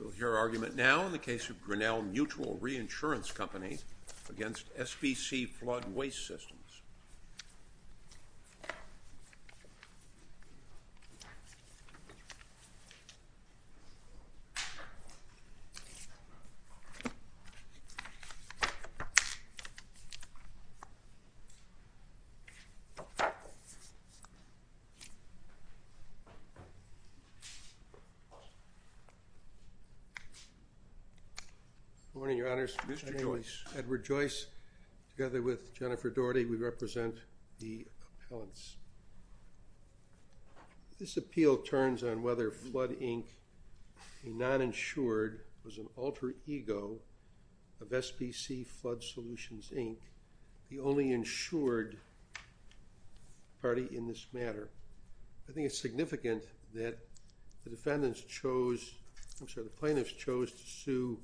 We'll hear argument now in the case of Grinnell Mutual Reinsurance Company against S.B.C. Flood Waste Systems. Good morning, Your Honors, my name is Edward Joyce, together with Jennifer Daugherty we represent the appellants. This appeal turns on whether Flood, Inc., a non-insured, was an alter ego of S.B.C. Flood Solutions, Inc., the only insured party in this matter. I think it's significant that the defendants chose, I'm sorry, the plaintiffs chose to sue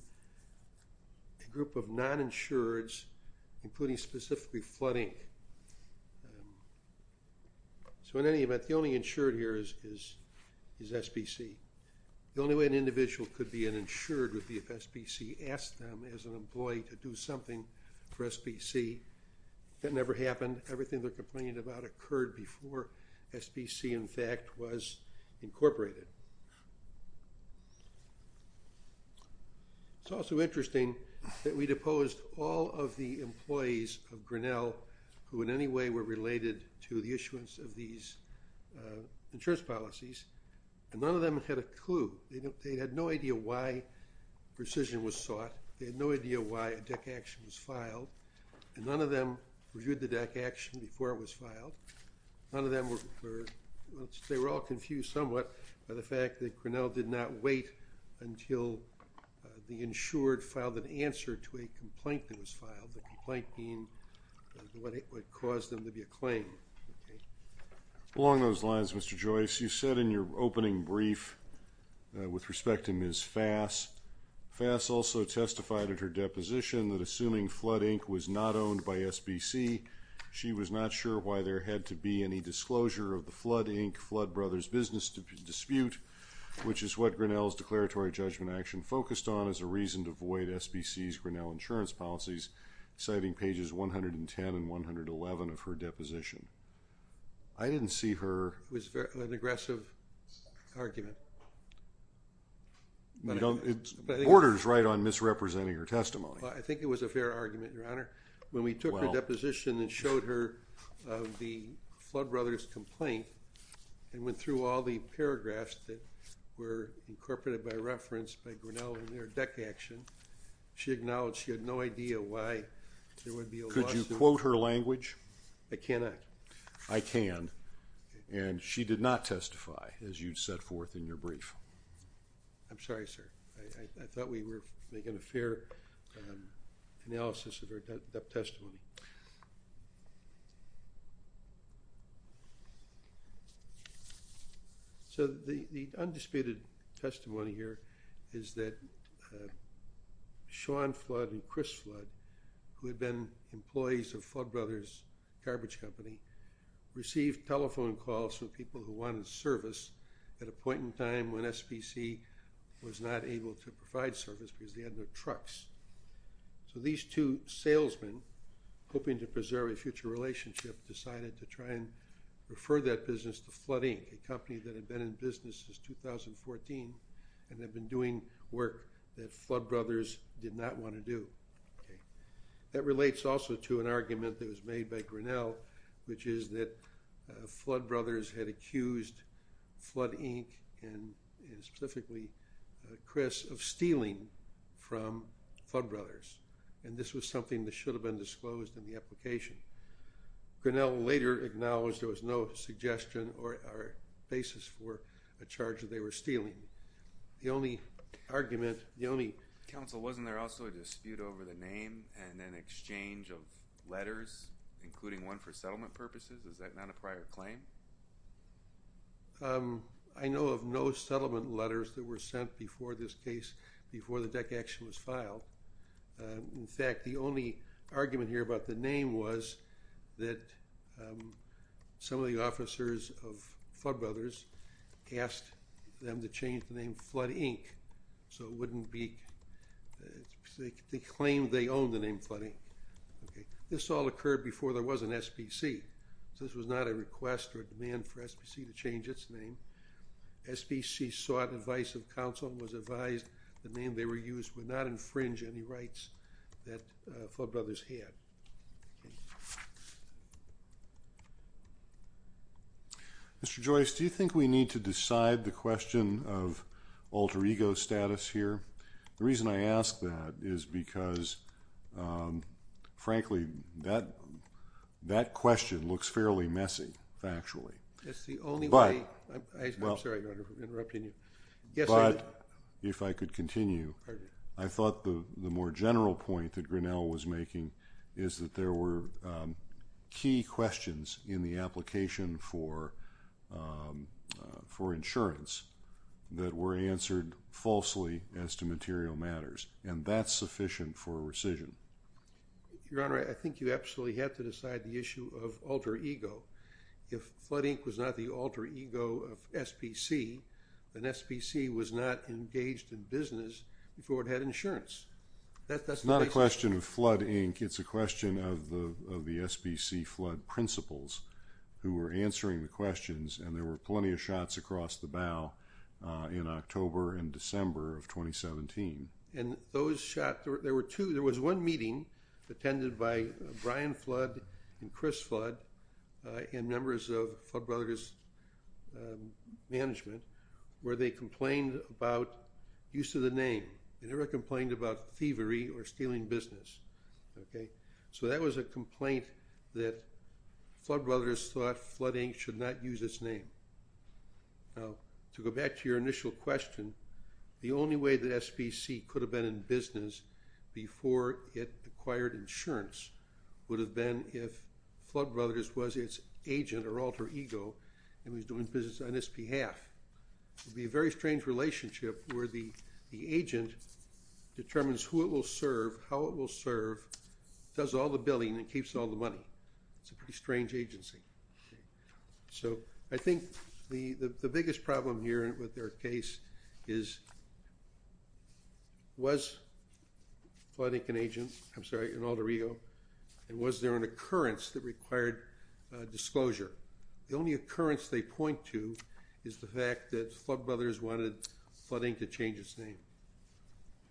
a group of non-insureds, including specifically Flood, Inc., so in any event, the only insured here is S.B.C. The only way an individual could be an insured would be if S.B.C. asked them as an employee to do something for S.B.C. That never happened. Everything they're complaining about occurred before S.B.C., in fact, was incorporated. It's also interesting that we deposed all of the employees of Grinnell who in any way were related to the issuance of these insurance policies, and none of them had a clue. They had no idea why rescission was sought, they had no idea why a deck action was filed, and none of them reviewed the deck action before it was filed. None of them were, they were all confused somewhat by the fact that Grinnell did not wait until the insured filed an answer to a complaint that was filed, the complaint being what it would cause them to be a claim, okay? Along those lines, Mr. Joyce, you said in your opening brief with respect to Ms. Fass, Fass also testified at her deposition that assuming Flood, Inc. was not owned by S.B.C., she was not sure why there had to be any disclosure of the Flood, Inc., Flood Brothers business dispute, which is what Grinnell's declaratory judgment action focused on as a reason to void S.B.C.'s Grinnell insurance policies, citing pages 110 and 111 of her deposition. I didn't see her. It was an aggressive argument. You don't, it borders right on misrepresenting her testimony. I think it was a fair argument, Your Honor. When we took her deposition and showed her the Flood Brothers complaint and went through all the paragraphs that were incorporated by reference by Grinnell in her deck action, she acknowledged she had no idea why there would be a lawsuit. Could you quote her language? I cannot. I can, and she did not testify as you'd set forth in your brief. I'm sorry, sir. I thought we were making a fair analysis of her testimony. So the undisputed testimony here is that Sean Flood and Chris Flood, who had been employees of Flood Brothers garbage company, received telephone calls from people who wanted service at a point in time when S.B.C. was not able to provide service because they had no trucks. So these two salesmen, hoping to preserve a future relationship, decided to try and refer that business to Flood Inc., a company that had been in business since 2014 and had been doing work that Flood Brothers did not want to do. That relates also to an argument that was made by Grinnell, which is that Flood Brothers had accused Flood Inc., and specifically Chris, of stealing from Flood Brothers, and this was something that should have been disclosed in the application. Grinnell later acknowledged there was no suggestion or basis for a charge that they were stealing. The only argument, the only Counsel, wasn't there also a dispute over the name and an exchange of letters, including one for settlement purposes? Is that not a prior claim? I know of no settlement letters that were sent before this case, before the DEC action was filed. In fact, the only argument here about the name was that some of the officers of Flood changed the name to Flood Inc., so it wouldn't be, they claimed they owned the name Flood Inc. This all occurred before there was an SPC, so this was not a request or a demand for SPC to change its name. SPC sought advice of counsel and was advised the name they were using would not infringe any rights that Flood Brothers had. Mr. Joyce, do you think we need to decide the question of alter ego status here? The reason I ask that is because, frankly, that question looks fairly messy, factually. It's the only way, I'm sorry, Your Honor, for interrupting you. But, if I could continue, I thought the more general point that Grinnell was making is that there were key questions in the application for insurance that were answered falsely as to material matters, and that's sufficient for rescission. Your Honor, I think you absolutely have to decide the issue of alter ego. If Flood Inc. was not the alter ego of SPC, then SPC was not engaged in business before it had insurance. That's not a question of Flood Inc., it's a question of the SPC flood principals who were answering the questions, and there were plenty of shots across the bow in October and December of 2017. And those shots, there were two, there was one meeting attended by Brian Flood and Chris Flood, and members of Flood Brothers' management, where they complained about use of the name. They never complained about thievery or stealing business. So that was a complaint that Flood Brothers thought Flood Inc. should not use its name. To go back to your initial question, the only way that SPC could have been in business before it acquired insurance would have been if Flood Brothers was its agent or alter ego and was doing business on its behalf. It would be a very strange relationship where the agent determines who it will serve, how it will serve, does all the billing, and keeps all the money. It's a pretty strange agency. So, I think the biggest problem here with their case is, was Flood Inc. an agent, I'm sorry, an alter ego, and was there an occurrence that required disclosure? The only occurrence they point to is the fact that Flood Brothers wanted Flood Inc. to change its name.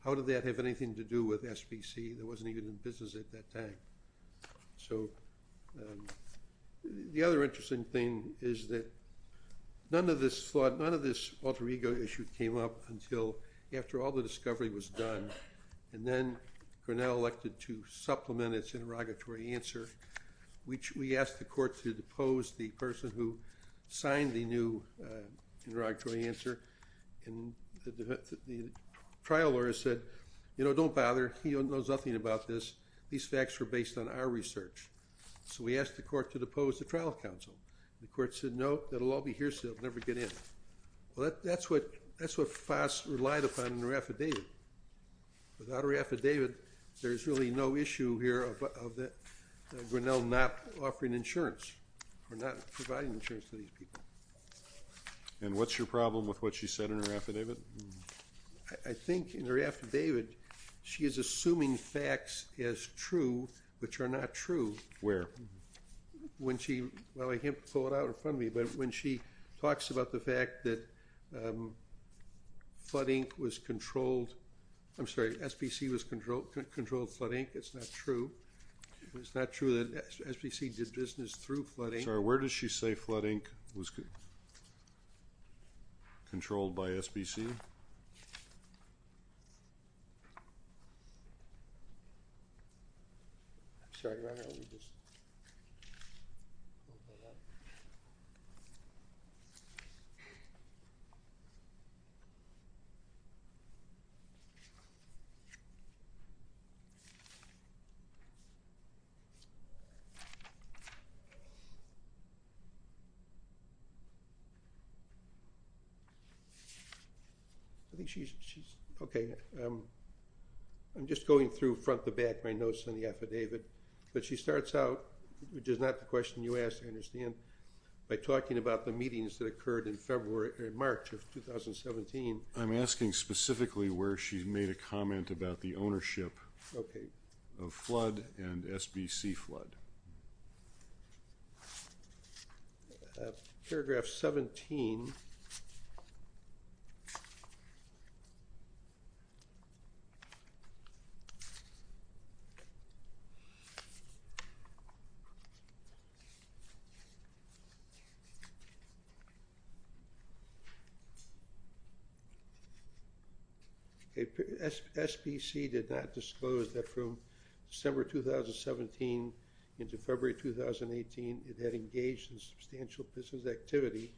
How did that have anything to do with SPC that wasn't even in business at that time? So, the other interesting thing is that none of this alter ego issue came up until after all the discovery was done, and then Grinnell elected to supplement its interrogatory answer. We asked the court to depose the person who signed the new interrogatory answer, and the trial lawyer said, you know, don't bother, he knows nothing about this. These facts were based on our research. So, we asked the court to depose the trial counsel. The court said, no, that'll all be hearsay, it'll never get in. Well, that's what Fass relied upon in her affidavit. Without her affidavit, there's really no issue here of Grinnell not offering insurance or not providing insurance to these people. And what's your problem with what she said in her affidavit? I think in her affidavit, she is assuming facts as true, which are not true. Where? When she, well, I can't pull it out in front of me, but when she talks about the fact that flood ink was controlled, I'm sorry, SPC was controlled flood ink, it's not true. It's not true that SPC did business through flood ink. Sorry, where does she say flood ink was controlled by SPC? I think she's, okay, I'm just going through front to back my notes on the affidavit, but she starts out, which is not the question you asked, I understand, by talking about the meetings that occurred in February, in March of 2017. I'm asking specifically where she made a comment about the ownership of flood and SBC flood. Paragraph 17, SPC did not disclose that from December 2017 until March of this year, the end of February 2018, it had engaged in substantial business activity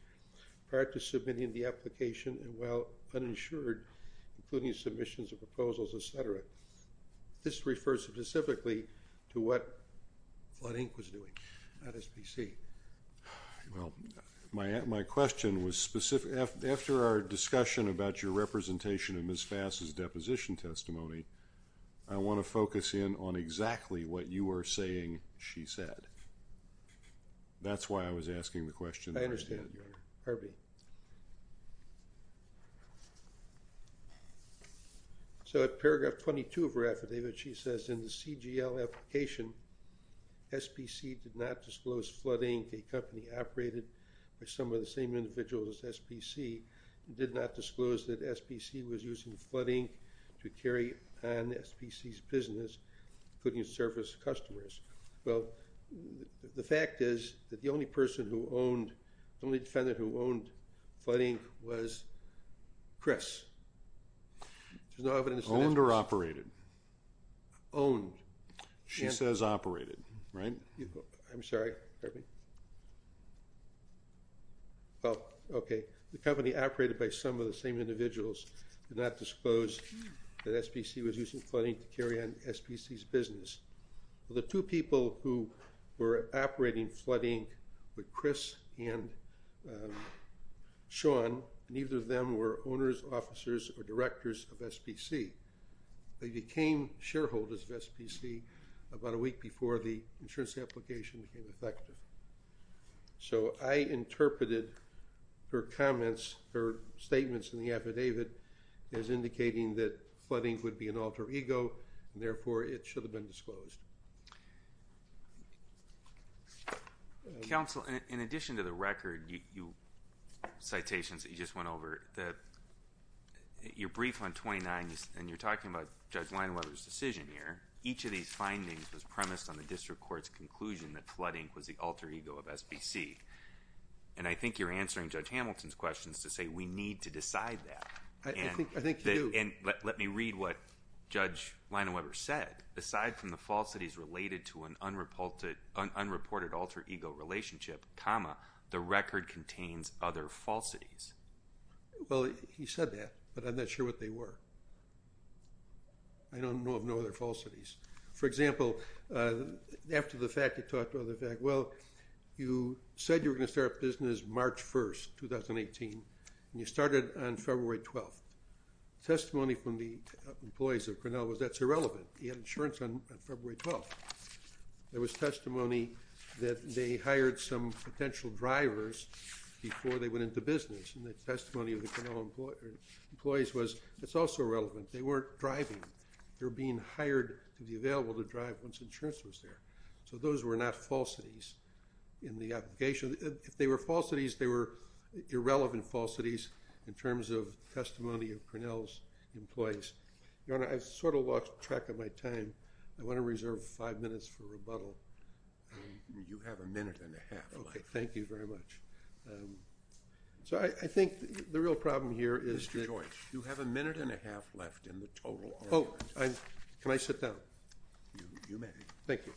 prior to submitting the application and while uninsured, including submissions of proposals, et cetera. This refers specifically to what flood ink was doing, not SPC. My question was specific, after our discussion about your representation of Ms. Fass' deposition testimony, I want to focus in on exactly what you were saying she said. That's why I was asking the question. I understand, Harvey. So at paragraph 22 of her affidavit, she says in the CGL application, SPC did not disclose flood ink, a company operated by some of the same individuals as SPC, did not disclose that SPC was using flood ink to carry on SPC's business, including service customers. Well, the fact is that the only person who owned, the only defendant who owned flood ink was Chris. There's no evidence to that. Owned or operated? Owned. She says operated, right? I'm sorry, Harvey. Well, okay. The company operated by some of the same individuals, did not disclose that SPC was using flood ink to carry on SPC's business. The two people who were operating flood ink were Chris and Sean, and either of them were owners, officers, or directors of SPC. They became shareholders of SPC about a week before the insurance application became effective. So, I interpreted her comments, her statements in the affidavit as indicating that flood ink would be an alter ego, and therefore, it should have been disclosed. Counsel, in addition to the record, you, citations that you just went over, the, your brief on 29, and you're talking about Judge Weinweber's decision here, each of these findings was in the district court's conclusion that flood ink was the alter ego of SPC. And I think you're answering Judge Hamilton's questions to say we need to decide that. I think you do. And let me read what Judge Weinweber said, aside from the falsities related to an unreported alter ego relationship, comma, the record contains other falsities. Well, he said that, but I'm not sure what they were. I don't know of no other falsities. For example, after the fact, he talked about the fact, well, you said you were going to start a business March 1st, 2018, and you started on February 12th. Testimony from the employees of Grinnell was that's irrelevant. He had insurance on February 12th. There was testimony that they hired some potential drivers before they went into business, and the testimony of the Grinnell employees was that's also irrelevant. They weren't driving. They were being hired to be available to drive once insurance was there. So those were not falsities in the application. If they were falsities, they were irrelevant falsities in terms of testimony of Grinnell's employees. Your Honor, I've sort of lost track of my time. I want to reserve five minutes for rebuttal. You have a minute and a half left. Thank you very much. So I think the real problem here is that— Mr. Joyce, you have a minute and a half left in the total. Oh, can I sit down? You may. Thank you.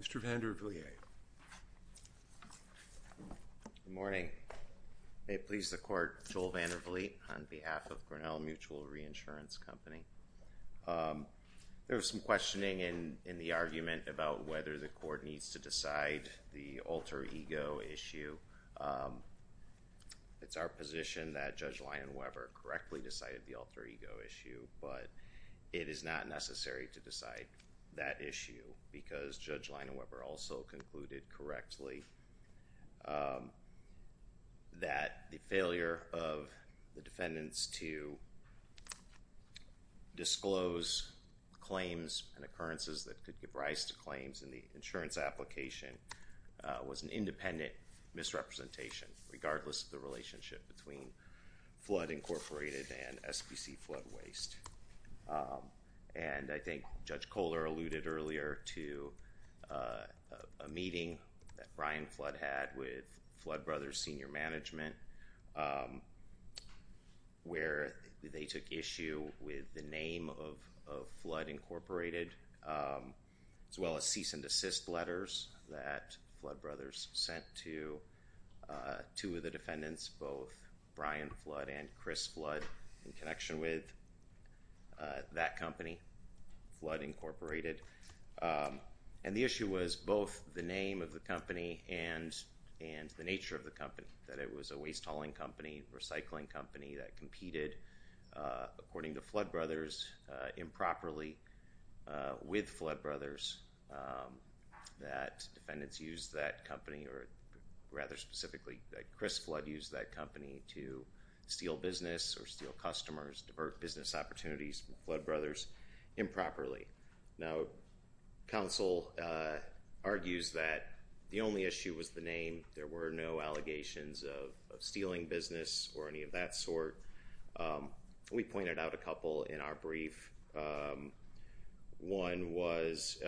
Mr. Vandervliet. Good morning. May it please the Court, Joel Vandervliet. On behalf of Grinnell Mutual Reinsurance Company, there was some questioning in the argument about whether the Court needs to decide the alter ego issue. It's our position that Judge Lyon-Weber correctly decided the alter ego issue, but it is not necessary to decide that issue because Judge Lyon-Weber also concluded correctly that the dependence to disclose claims and occurrences that could give rise to claims in the insurance application was an independent misrepresentation regardless of the relationship between Flood Incorporated and SPC Flood Waste. And I think Judge Kohler alluded earlier to a meeting that Brian Flood had with Flood Brothers Senior Management where they took issue with the name of Flood Incorporated as well as cease and desist letters that Flood Brothers sent to two of the defendants, both Brian Flood and Chris Flood in connection with that company, Flood Incorporated. And the issue was both the name of the company and the nature of the company, that it was a waste hauling company, recycling company that competed according to Flood Brothers improperly with Flood Brothers, that defendants used that company or rather specifically that Chris Flood used that company to steal business or steal customers, divert business opportunities from Flood Brothers improperly. Now, counsel argues that the only issue was the name. There were no allegations of stealing business or any of that sort. We pointed out a couple in our brief. One was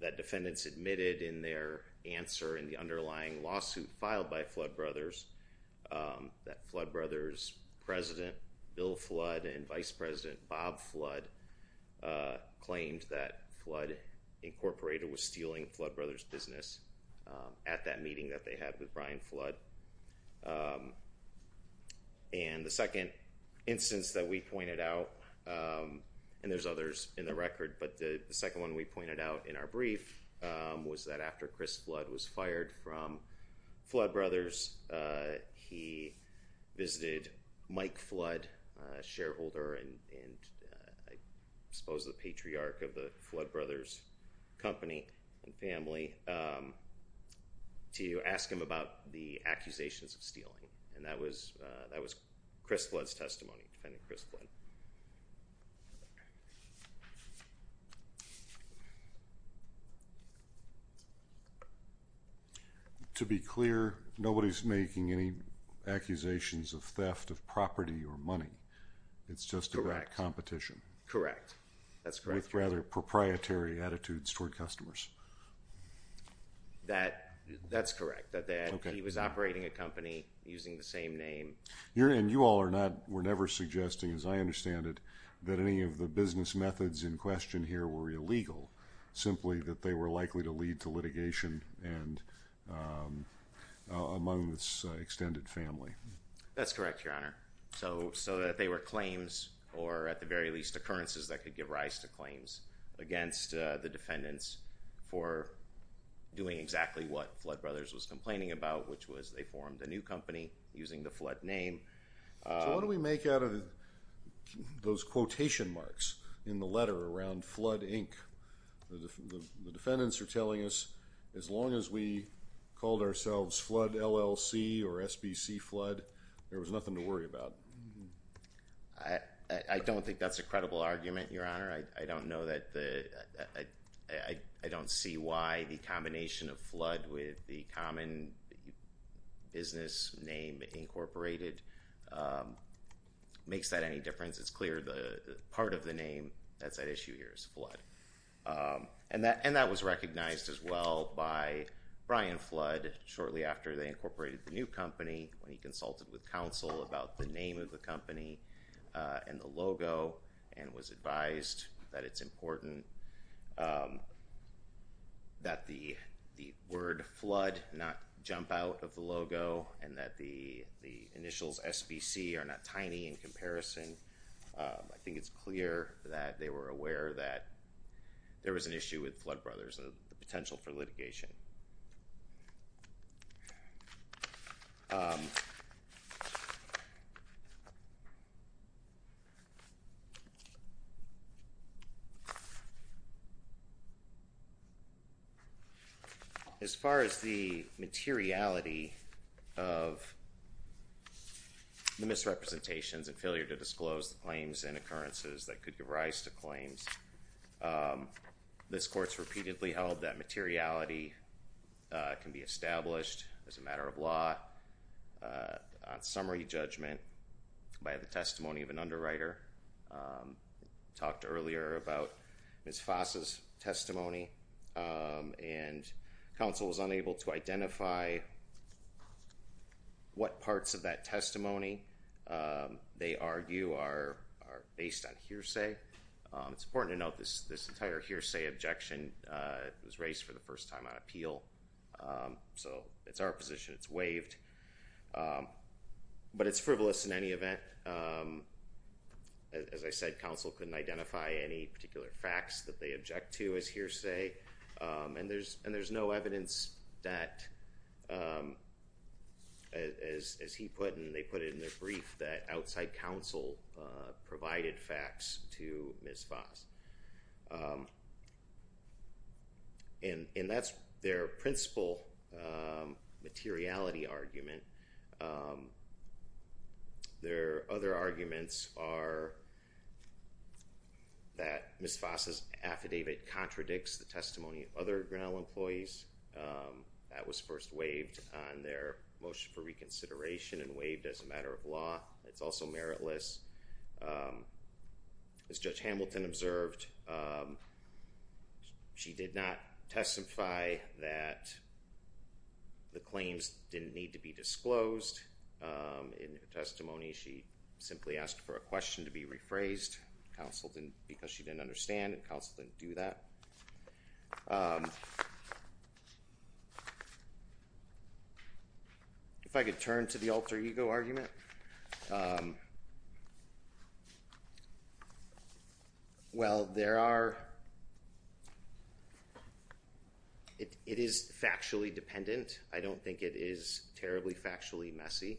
that defendants admitted in their answer in the underlying lawsuit filed by Michael Flood and Vice President Bob Flood claimed that Flood Incorporated was stealing Flood Brothers' business at that meeting that they had with Brian Flood. And the second instance that we pointed out, and there's others in the record, but the second one we pointed out in our brief was that after Chris Flood was fired from Flood Brothers, he visited Mike Flood, a shareholder and I suppose the patriarch of the Flood Brothers company and family, to ask him about the accusations of stealing. And that was Chris Flood's testimony, Defendant Chris Flood. To be clear, nobody's making any accusations of theft of property or money. It's just about competition. Correct. Correct. That's correct. With rather proprietary attitudes toward customers. That's correct. That he was operating a company using the same name. And you all are not, were never suggesting, as I understand it, that any of the business methods in question here were illegal. Simply that they were likely to lead to litigation among this extended family. That's correct, Your Honor. So that they were claims or at the very least occurrences that could give rise to claims against the defendants for doing exactly what Flood Brothers was complaining about, which was they formed a new company using the Flood name. So what do we make out of those quotation marks in the letter around Flood, Inc.? The defendants are telling us as long as we called ourselves Flood LLC or SBC Flood, there was nothing to worry about. I don't think that's a credible argument, Your Honor. I don't know that the, I don't see why the combination of Flood with the common business name incorporated makes that any difference. It's clear the part of the name that's at issue here is Flood. And that was recognized as well by Brian Flood shortly after they incorporated the new company when he consulted with counsel about the name of the company and the logo and was advised that it's important that the word Flood not jump out of the logo and that the initials SBC are not tiny in comparison. I think it's clear that they were aware that there was an issue with Flood Brothers and the potential for litigation. As far as the materiality of the misrepresentations and failure to disclose the claims and occurrences that could give rise to claims, this court's repeatedly held that materiality can be established as a matter of law on summary judgment by the testimony of an underwriter. Talked earlier about Ms. Fassa's testimony and counsel was unable to identify what parts of that testimony they argue are based on hearsay. It's important to note this entire hearsay objection was raised for the first time on appeal. So it's our position, it's waived. But it's frivolous in any event. As I said, counsel couldn't identify any particular facts that they object to as hearsay and there's no evidence that, as he put and they put it in their brief, that outside counsel provided facts to Ms. Fassa. And that's their principal materiality argument. Their other arguments are that Ms. Fassa's affidavit contradicts the testimony of other Grinnell employees that was first waived on their motion for reconsideration and waived as a matter of law. It's also meritless. As Judge Hamilton observed, she did not testify that the claims didn't need to be disclosed. In her testimony, she simply asked for a question to be rephrased. Counsel didn't, because she didn't understand, counsel didn't do that. If I could turn to the alter ego argument, well, there are, it is factually dependent. I don't think it is terribly factually messy.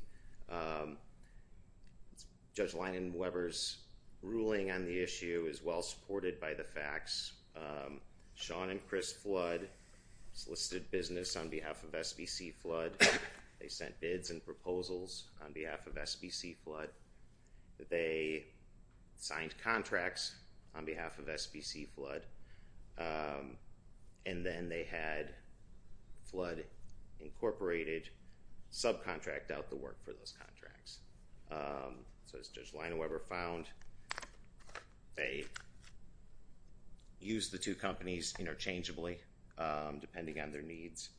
Judge Linen-Weber's ruling on the issue is well supported by the facts. Sean and Chris Flood solicited business on behalf of SBC Flood, they sent bids and proposals on behalf of SBC Flood, they signed contracts on behalf of SBC Flood, and then they had to work for those contracts. So as Judge Linen-Weber found, they used the two companies interchangeably depending on their needs.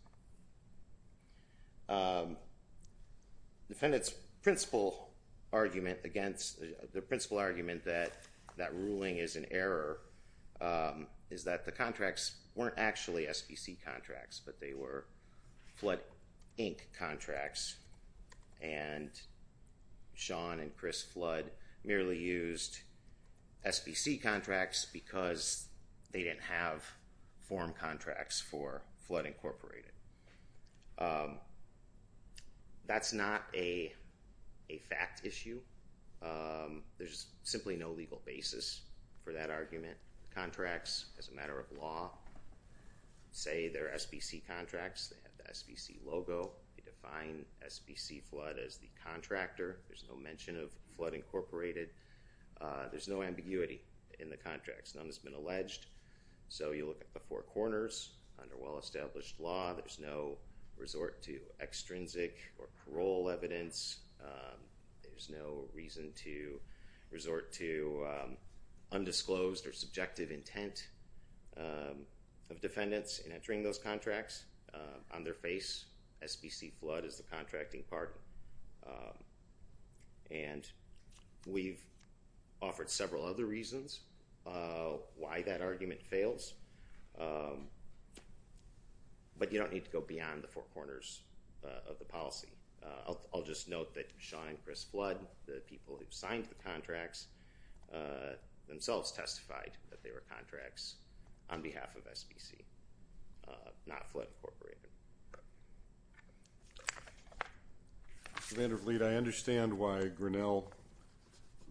Defendant's principal argument against, their principal argument that that ruling is an Sean and Chris Flood merely used SBC contracts because they didn't have form contracts for Flood Incorporated. That's not a fact issue, there's simply no legal basis for that argument. Contracts as a matter of law say they're SBC contracts, they have the SBC logo, they define SBC Flood as the contractor, there's no mention of Flood Incorporated, there's no ambiguity in the contracts, none has been alleged. So you look at the four corners under well established law, there's no resort to extrinsic or parole evidence, there's no reason to resort to undisclosed or subjective intent of defendants in entering those contracts. On their face, SBC Flood is the contracting partner. And we've offered several other reasons why that argument fails, but you don't need to go beyond the four corners of the policy. I'll just note that Sean and Chris Flood, the people who signed the contracts, themselves testified that they were contracts on behalf of SBC, not Flood Incorporated. Mr. Van Der Vliet, I understand why Grinnell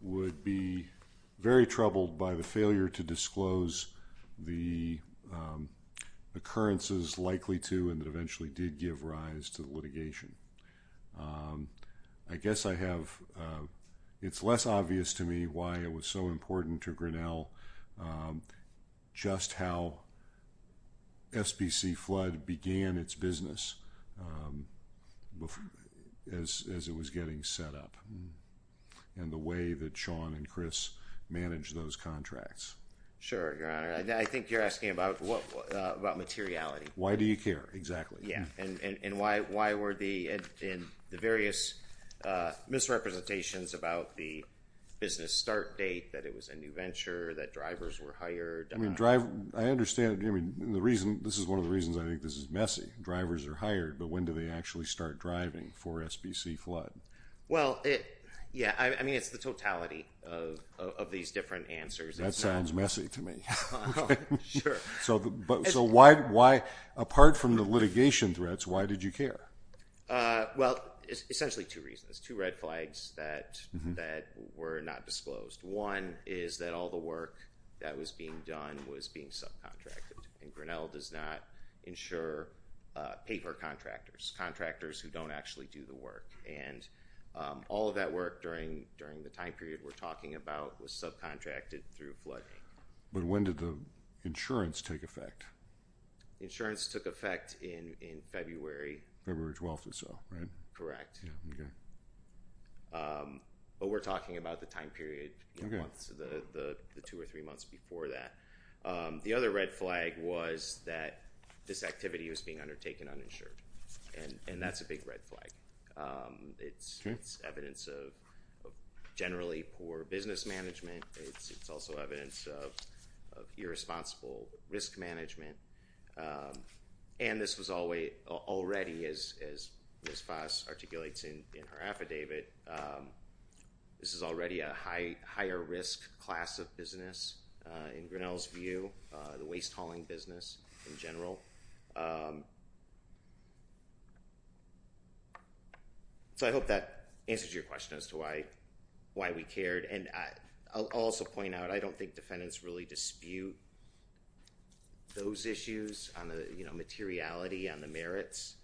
would be very troubled by the failure to disclose the occurrences likely to and that eventually did give rise to litigation. I guess I have, it's less obvious to me why it was so important to Grinnell just how SBC Flood began its business as it was getting set up and the way that Sean and Chris managed those contracts. Sure, Your Honor. I think you're asking about what, about materiality. Why do you care? Exactly. Yeah. And why were the various misrepresentations about the business start date, that it was a new venture, that drivers were hired? I understand, I mean, the reason, this is one of the reasons I think this is messy. Drivers are hired, but when do they actually start driving for SBC Flood? Well, yeah, I mean, it's the totality of these different answers. That sounds messy to me. Sure. So why, apart from the litigation threats, why did you care? Well, essentially two reasons, two red flags that were not disclosed. One is that all the work that was being done was being subcontracted and Grinnell does not insure paper contractors, contractors who don't actually do the work. And all of that work during the time period we're talking about was subcontracted through flooding. But when did the insurance take effect? Insurance took effect in February. February 12th or so, right? Correct. Yeah. Okay. But we're talking about the time period, the two or three months before that. The other red flag was that this activity was being undertaken uninsured. And that's a big red flag. It's evidence of generally poor business management. It's also evidence of irresponsible risk management. And this was already, as Ms. Foss articulates in her affidavit, this is already a higher risk class of business in Grinnell's view, the waste hauling business in general. So I hope that answers your question as to why we cared. And I'll also point out, I don't think defendants really dispute those issues on the, you know, materiality on the merits.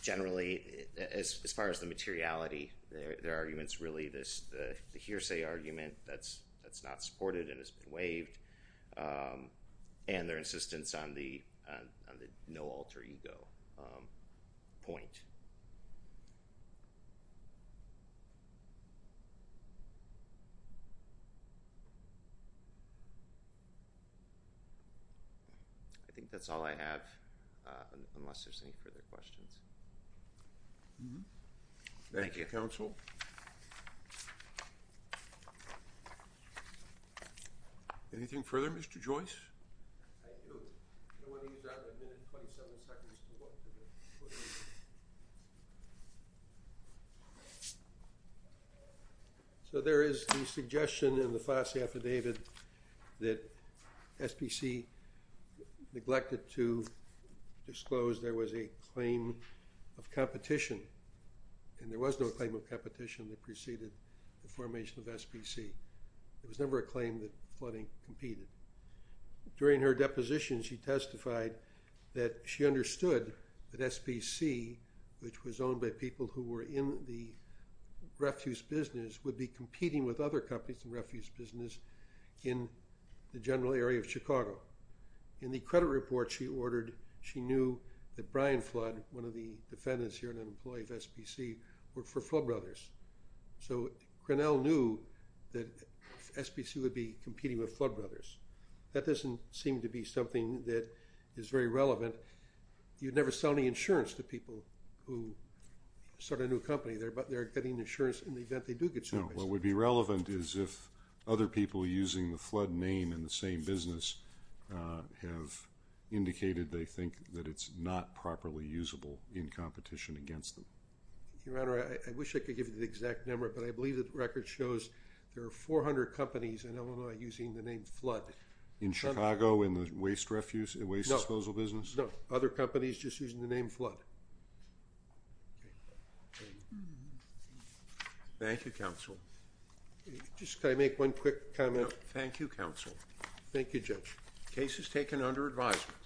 Generally, as far as the materiality, their arguments really this, the hearsay argument that's not supported and has been waived and their insistence on the no alter ego point. I think that's all I have, unless there's any further questions. Thank you, counsel. Anything further? Mr. Joyce. I do. I want to use that minute and twenty-seven seconds to walk through the report. So there is the suggestion in the Foss affidavit that SPC neglected to disclose there was a claim of competition, and there was no claim of competition that preceded the formation of SPC. There was never a claim that flooding competed. During her deposition, she testified that she understood that SPC, which was owned by people who were in the refuse business, would be competing with other companies in refuse business in the general area of Chicago. In the credit report she ordered, she knew that Brian Flood, one of the defendants here and an employee of SPC, worked for Flood Brothers. So Grinnell knew that SPC would be competing with Flood Brothers. That doesn't seem to be something that is very relevant. You never sell any insurance to people who start a new company, but they're getting insurance in the event they do get service. No. What would be relevant is if other people using the Flood name in the same business have indicated they think that it's not properly usable in competition against them. Your Honor, I wish I could give you the exact number, but I believe that the record shows there are 400 companies in Illinois using the name Flood. In Chicago, in the waste refusal, waste disposal business? No. Other companies just using the name Flood. Thank you, counsel. Just can I make one quick comment? Thank you, counsel. Thank you, Judge. The case is taken under advisement.